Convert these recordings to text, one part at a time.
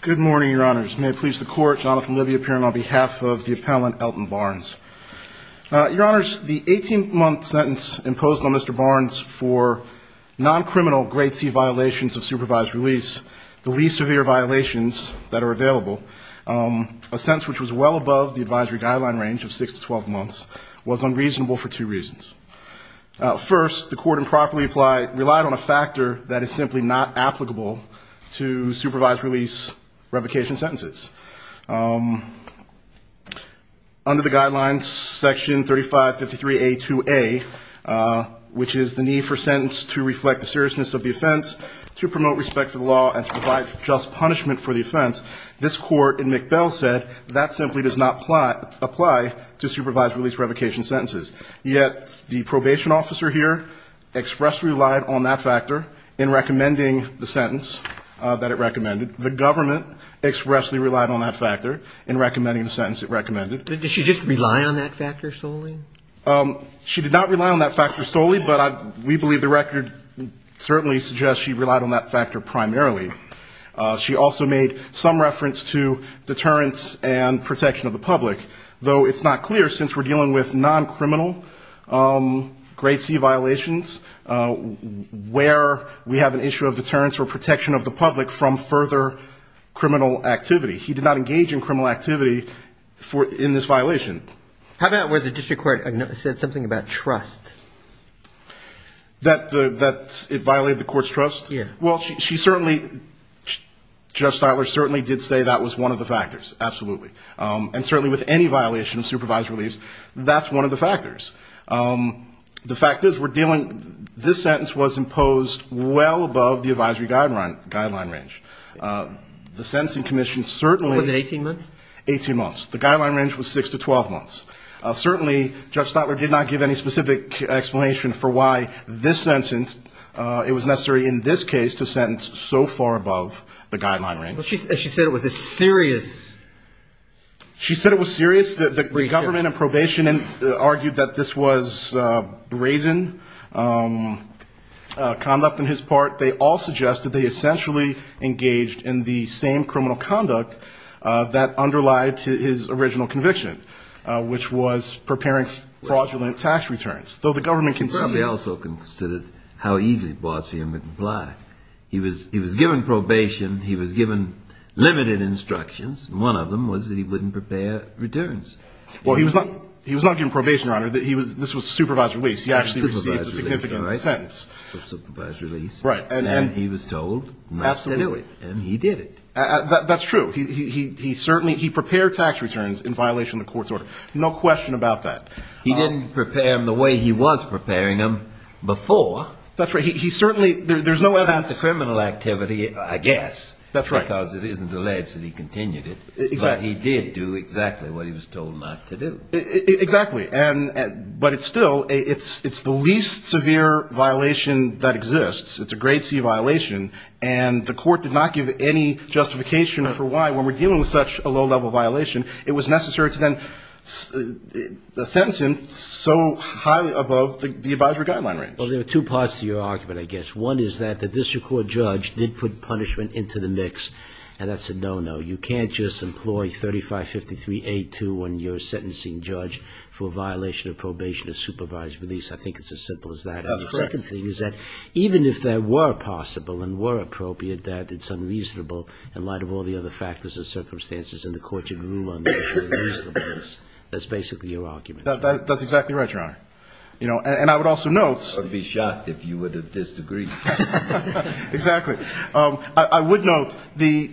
Good morning, Your Honors. May it please the Court, Jonathan Livy appearing on behalf of the appellant Elton Barnes. Your Honors, the 18-month sentence imposed on Mr. Barnes for non-criminal grade C violations of supervised release, the least severe violations that are available, a sentence which was well above the advisory guideline range of 6 to 12 months, was unreasonable for two reasons. First, the Court improperly relied on a factor that is simply not applicable to supervised release revocation sentences. Under the guidelines, Section 3553A2A, which is the need for a sentence to reflect the seriousness of the offense, to promote respect for the law, and to provide just punishment for the offense, this Court in McBell said that simply does not apply to supervised release revocation sentences. Yet the probation officer here expressly relied on that factor in recommending the sentence that it recommended. The government expressly relied on that factor in recommending the sentence it recommended. Did she just rely on that factor solely? She did not rely on that factor solely, but we believe the record certainly suggests she relied on that factor primarily. She also made some reference to deterrence and protection of the public, though it's not clear since we're dealing with non-criminal grade C violations, where we have an issue of deterrence or protection of the public from further criminal activity. He did not engage in criminal activity in this violation. How about where the district court said something about trust? That it violated the court's trust? Yeah. Well, she certainly, Judge Stiler certainly did say that was one of the factors, absolutely. And certainly with any violation of supervised release, that's one of the factors. The fact is we're dealing, this sentence was imposed well above the advisory guideline range. The sentencing commission certainly. Was it 18 months? 18 months. The guideline range was 6 to 12 months. Certainly, Judge Stiler did not give any specific explanation for why this sentence, it was necessary in this case to sentence so far above the guideline range. Well, she said it was a serious breach. She said it was serious. The government in probation argued that this was brazen conduct on his part. They all suggested they essentially engaged in the same criminal conduct that underlied his original conviction, which was preparing fraudulent tax returns, though the government conceded. They also considered how easy it was for him to comply. He was given probation. He was given limited instructions. One of them was that he wouldn't prepare returns. Well, he was not given probation, Your Honor. This was supervised release. He actually received a significant sentence. Supervised release. And then he was told not to do it. And he did it. That's true. He certainly, he prepared tax returns in violation of the court's order. No question about that. He didn't prepare them the way he was preparing them before. That's right. He certainly, there's no evidence. Not the criminal activity, I guess. That's right. Because it isn't alleged that he continued it. But he did do exactly what he was told not to do. Exactly. But it's still, it's the least severe violation that exists. It's a grade C violation, and the court did not give any justification for why, when we're dealing with such a low-level violation, it was necessary to then sentence him so highly above the advisory guideline range. Well, there are two parts to your argument, I guess. One is that the district court judge did put punishment into the mix, and that's a no-no. You can't just employ 3553A2 when you're sentencing judge for a violation of probation of supervised release. I think it's as simple as that. That's correct. And the second thing is that even if that were possible and were appropriate, that it's unreasonable in light of all the other factors and circumstances, and the court should rule on the issue of reasonableness. That's basically your argument. That's exactly right, Your Honor. You know, and I would also note. I would be shocked if you would have disagreed. Exactly. I would note the.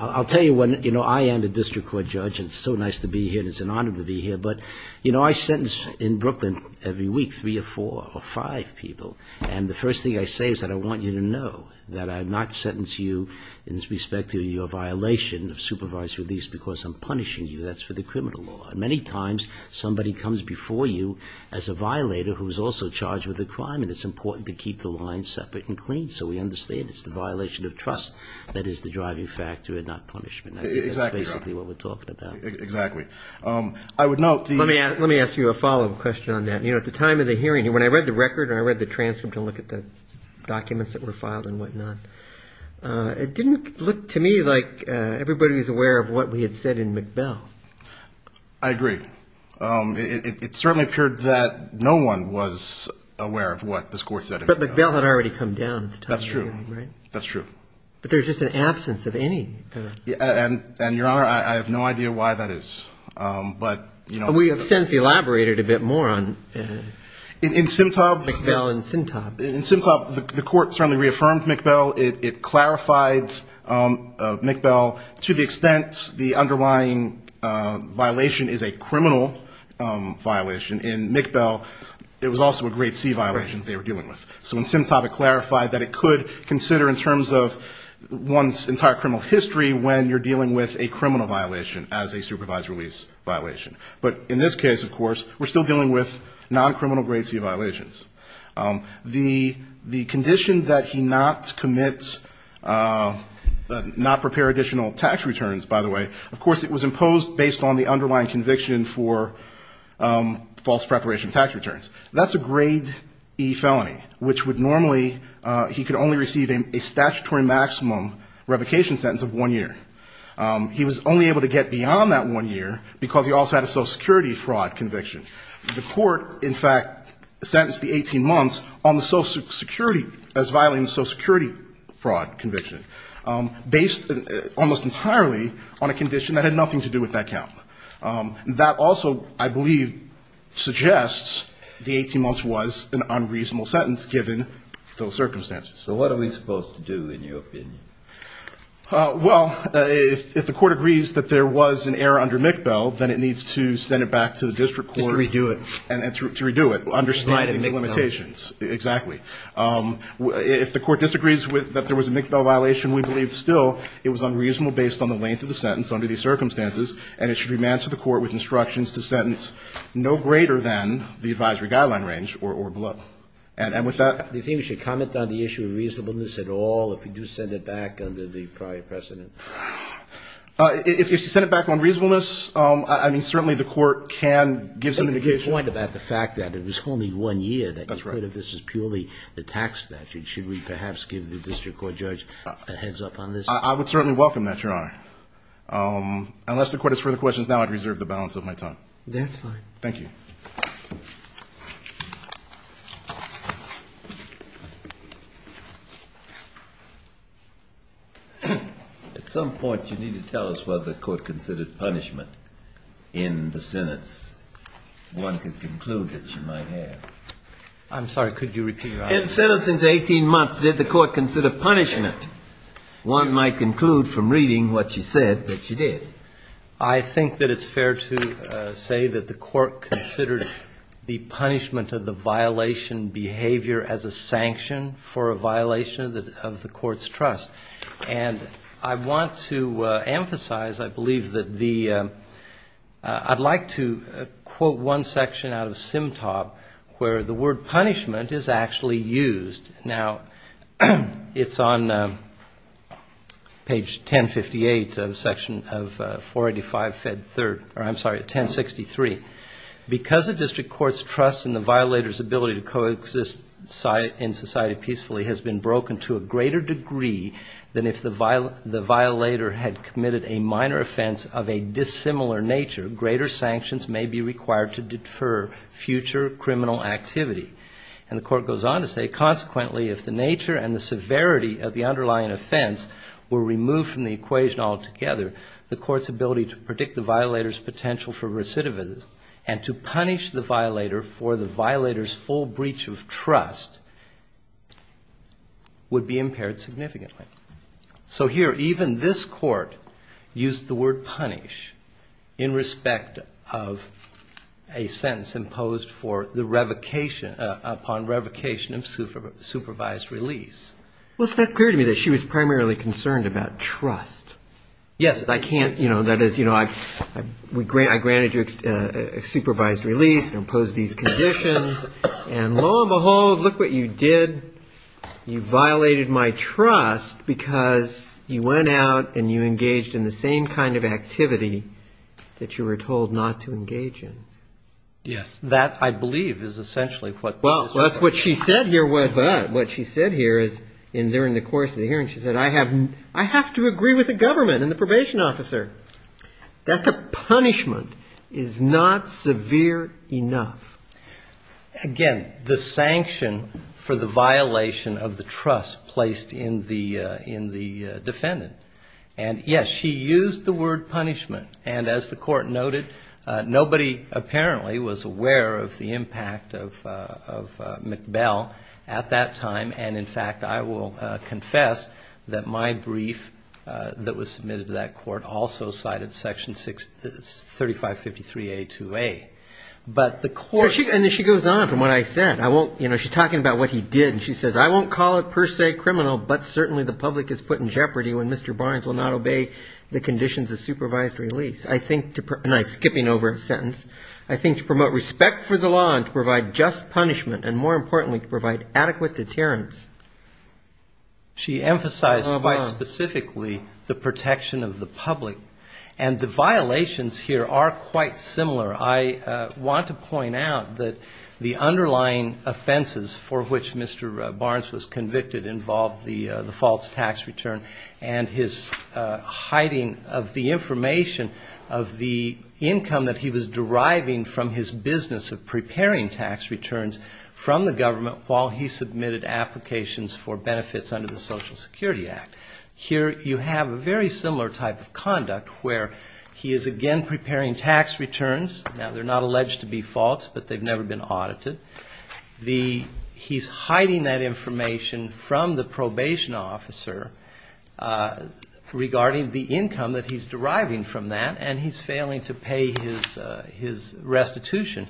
I'll tell you what, you know, I am the district court judge, and it's so nice to be here and it's an honor to be here. But, you know, I sentence in Brooklyn every week three or four or five people, and the first thing I say is that I want you to know that I have not sentenced you in respect to your violation of supervised release because I'm punishing you. That's for the criminal law. Many times somebody comes before you as a violator who is also charged with a crime, and it's important to keep the line separate and clean so we understand it's the violation of trust that is the driving factor and not punishment. Exactly, Your Honor. That's basically what we're talking about. Exactly. I would note the. Let me ask you a follow-up question on that. You know, at the time of the hearing, when I read the record and I read the transcript and looked at the documents that were filed and whatnot, it didn't look to me like everybody was aware of what we had said in McBell. I agree. It certainly appeared that no one was aware of what this Court said in McBell. But McBell had already come down at the time of the hearing, right? That's true. That's true. But there's just an absence of any. And, Your Honor, I have no idea why that is. But, you know. We have since elaborated a bit more on McBell and Syntop. In Syntop, the Court certainly reaffirmed McBell. It clarified McBell to the extent the underlying violation is a criminal violation. In McBell, it was also a grade C violation they were dealing with. So in Syntop, it clarified that it could consider in terms of one's entire criminal history when you're dealing with a criminal violation as a supervised release violation. But in this case, of course, we're still dealing with non-criminal grade C violations. The condition that he not commit, not prepare additional tax returns, by the way, of course, it was imposed based on the underlying conviction for false preparation tax returns. That's a grade E felony, which would normally, he could only receive a statutory maximum revocation sentence of one year. He was only able to get beyond that one year because he also had a Social Security fraud conviction. The Court, in fact, sentenced the 18 months on the Social Security, as violating the Social Security fraud conviction, based almost entirely on a condition that had nothing to do with that count. That also, I believe, suggests the 18 months was an unreasonable sentence, given those circumstances. So what are we supposed to do, in your opinion? Well, if the Court agrees that there was an error under McBell, then it needs to send it back to the district court. Just to redo it. And to redo it. Understanding the limitations. Exactly. If the Court disagrees that there was a McBell violation, we believe still it was unreasonable based on the length of the sentence under these circumstances, and it should remain to the Court with instructions to sentence no greater than the advisory guideline range or below. And with that. Do you think we should comment on the issue of reasonableness at all if we do send it back under the prior precedent? If you send it back on reasonableness, I mean, certainly the Court can give some indication. But you point about the fact that it was only one year. That's right. That this is purely the tax statute. Should we perhaps give the district court judge a heads up on this? I would certainly welcome that, Your Honor. Unless the Court has further questions now, I'd reserve the balance of my time. That's fine. Thank you. At some point, you need to tell us whether the Court considered punishment in the sentence. One could conclude that you might have. I'm sorry. Could you repeat your answer? Instead of 18 months, did the Court consider punishment? One might conclude from reading what you said that you did. I think that it's fair to say that the Court considered the punishment of the violation behavior as a sanction for a violation of the Court's trust. And I want to emphasize, I believe, that the ‑‑ I'd like to quote one section out of Symtop where the word punishment is actually used. Now, it's on page 1058 of section of 485‑1063. Because the district court's trust in the violator's ability to coexist in society peacefully has been broken to a greater degree than if the violator had committed a minor offense of a dissimilar nature, greater sanctions may be required to defer future criminal activity. And the Court goes on to say, consequently, if the nature and the severity of the underlying offense were removed from the equation altogether, the Court's ability to predict the violator's potential for recidivism and to punish the violator for the violator's full breach of trust would be impaired significantly. So here, even this Court used the word punish in respect of a sentence imposed for the revocation, upon revocation of supervised release. Well, it's not clear to me that she was primarily concerned about trust. Yes, I can't, you know, that is, you know, I granted you supervised release and imposed these conditions, and lo and behold, look what you did. You violated my trust because you went out and you engaged in the same kind of activity that you were told not to Well, that's what she said here, but what she said here is, during the course of the hearing, she said, I have to agree with the government and the probation officer that the punishment is not severe enough. Again, the sanction for the violation of the trust placed in the defendant. And, yes, she used the word punishment, and as the Court noted, nobody apparently was aware of the impact of McBell at that time. And, in fact, I will confess that my brief that was submitted to that Court also cited Section 3553A-2A. But the Court And she goes on from what I said. She's talking about what he did, and she says, I won't call it per se criminal, but certainly the public is put in jeopardy when Mr. Barnes will not obey the conditions of supervised release. And I'm skipping over a sentence. I think to promote respect for the law and to provide just punishment and, more importantly, to provide adequate deterrence. And the violations here are quite similar. I want to point out that the underlying offenses for which Mr. Barnes was convicted involved the false tax return, and his hiding of the information of the income that he was deriving from his business of preparing tax returns from the government while he submitted applications for benefits under the Social Security Act. Here you have a very similar type of conduct, where he is again preparing tax returns. Now, they're not alleged to be false, but they've never been audited. He's hiding that information from the probation officer regarding the income that he's deriving from that, and he's failing to pay his restitution.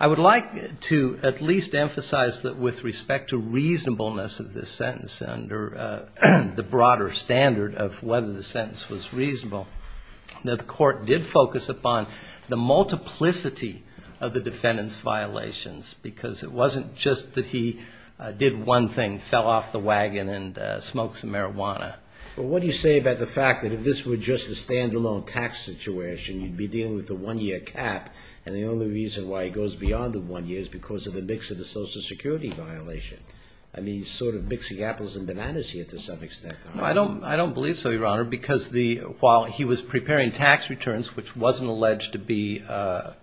I would like to at least emphasize that with respect to reasonableness of this sentence under the broader standard of whether the sentence was reasonable, that the Court did focus upon the multiplicity of the defendant's violations. Because it wasn't just that he did one thing, fell off the wagon and smoked some marijuana. But what do you say about the fact that if this were just a stand-alone tax situation, you'd be dealing with a one-year cap, and the only reason why he goes beyond the one year is because of the mix of the Social Security violation? I mean, he's sort of mixing apples and bananas here to some extent. I don't believe so, Your Honor, because while he was preparing tax returns, which wasn't alleged to be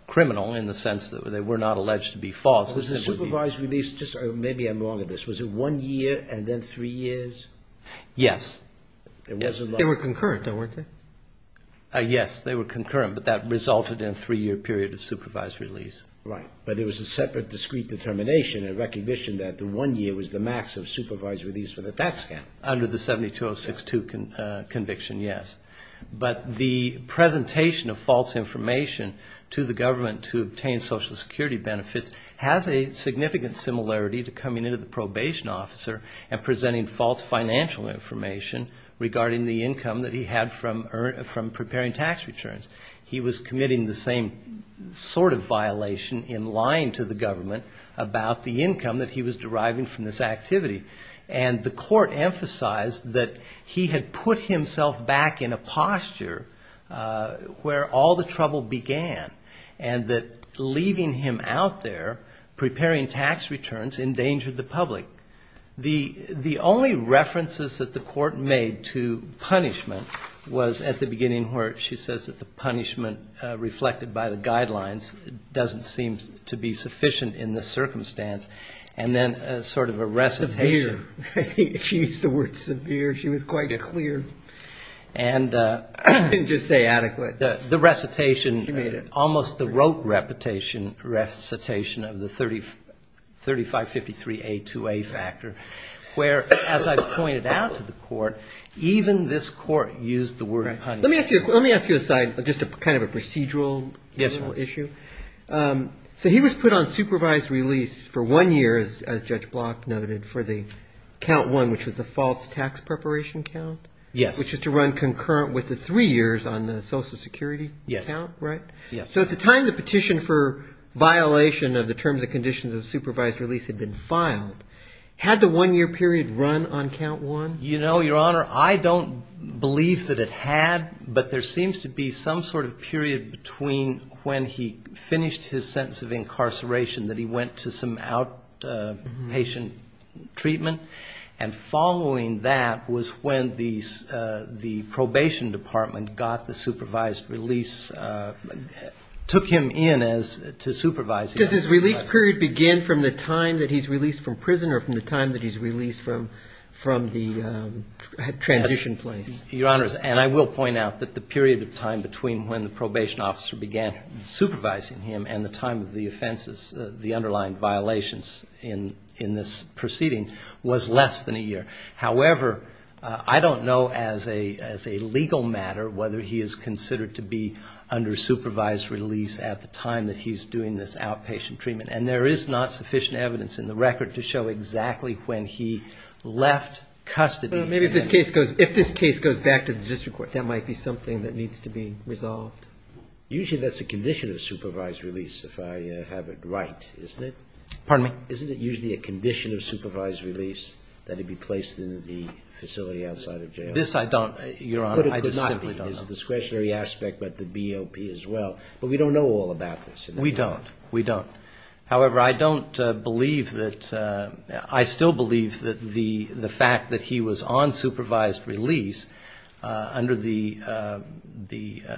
criminal in the sense that they were not alleged to be false, the supervisory lease, maybe I'm wrong on this, was it one year and then three years? Yes. They were concurrent, though, weren't they? Yes, they were concurrent, but that resulted in a three-year period of supervisory lease. Right, but it was a separate discrete determination in recognition that the one year was the max of supervisory lease for the tax scam. Under the 72062 conviction, yes. But the presentation of false information to the government to obtain Social Security benefits has a significant similarity to coming into the probation officer and presenting false financial information regarding the income that he had from preparing tax returns. He was committing the same sort of violation in lying to the government about the income that he was deriving from this activity. And the court emphasized that he had put himself back in a posture where all the trouble began, and that leaving him out there preparing tax returns endangered the public. The only references that the court made to punishment was at the beginning where she says that the punishment reflected by the guidelines doesn't seem to be severe. She used the word severe. She was quite clear. And just say adequate. The recitation, almost the rote recitation of the 3553A2A factor, where, as I pointed out to the court, even this court used the word punishment. And the court also used the term count one, which was the false tax preparation count, which is to run concurrent with the three years on the Social Security count, right? So at the time the petition for violation of the terms and conditions of supervised release had been filed, had the one-year period run on count one? You know, Your Honor, I don't believe that it had. But there seems to be some sort of period between when he finished his sentence of incarceration that he went to some outpatient and following that was when the probation department got the supervised release, took him in as to supervise him. Does his release period begin from the time that he's released from prison or from the time that he's released from the transition place? Your Honor, and I will point out that the period of time between when the probation officer began supervising him and the time of the offenses, the underlying violations in this proceeding, was less than a year. However, I don't know as a legal matter whether he is considered to be under supervised release at the time that he's doing this outpatient treatment. And there is not sufficient evidence in the record to show exactly when he left custody. Maybe if this case goes back to the district court, that might be something that needs to be resolved. Usually that's a condition of supervised release if I have it right, isn't it? Pardon me? Isn't it usually a condition of supervised release that he be placed in the facility outside of jail? This I don't, Your Honor, I simply don't know. Could it not be? It's a discretionary aspect, but the BOP as well. But we don't know all about this. We don't. We don't. However, I don't believe that, I still believe that the fact that he was on supervised release under the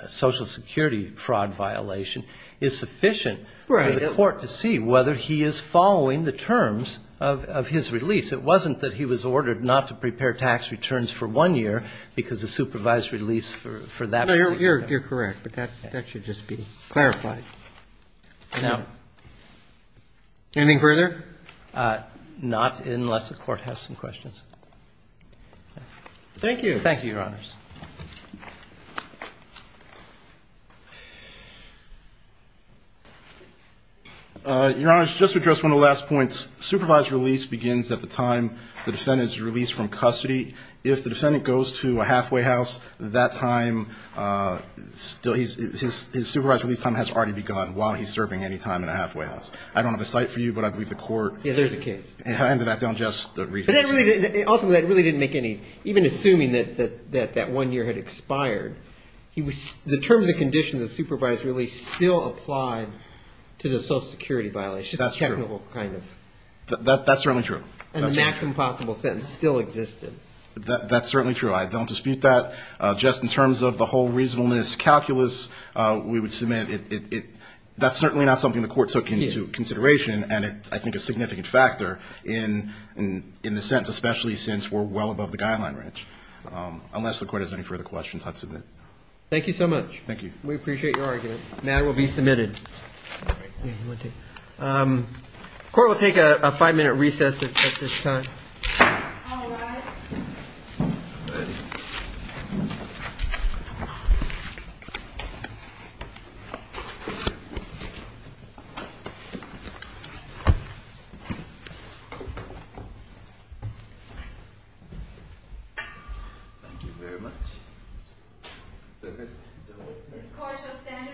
Social Security fraud violation is sufficient for the court to see whether he is following the terms of his release. It wasn't that he was ordered not to prepare tax returns for one year because the supervised release for that particular I think you're correct. But that should just be clarified. Anything further? Not unless the court has some questions. Thank you. Thank you, Your Honors. Your Honors, just to address one of the last points, supervised release begins at the time the defendant is released from custody. If the defendant goes to a halfway house, that time, his supervised release time has already begun while he's serving any time in a halfway house. I don't have a cite for you, but I believe the court. Yeah, there's a case. Ultimately, that really didn't make any, even assuming that that one year had expired, the term of the condition of the supervised release still applied to the Social Security violation. That's certainly true. And the maximum possible sentence still existed. That's certainly true. I don't dispute that. Just in terms of the whole reasonableness calculus, we would submit that's certainly not something the court took into consideration. And it's, I think, a significant factor in the sense, especially since we're well above the guideline range. Unless the court has any further questions, I'd submit. Thank you so much. We appreciate your argument. The matter will be submitted. Court will take a five minute recess at this time. Thank you very much. This court shall stand in recess for five minutes.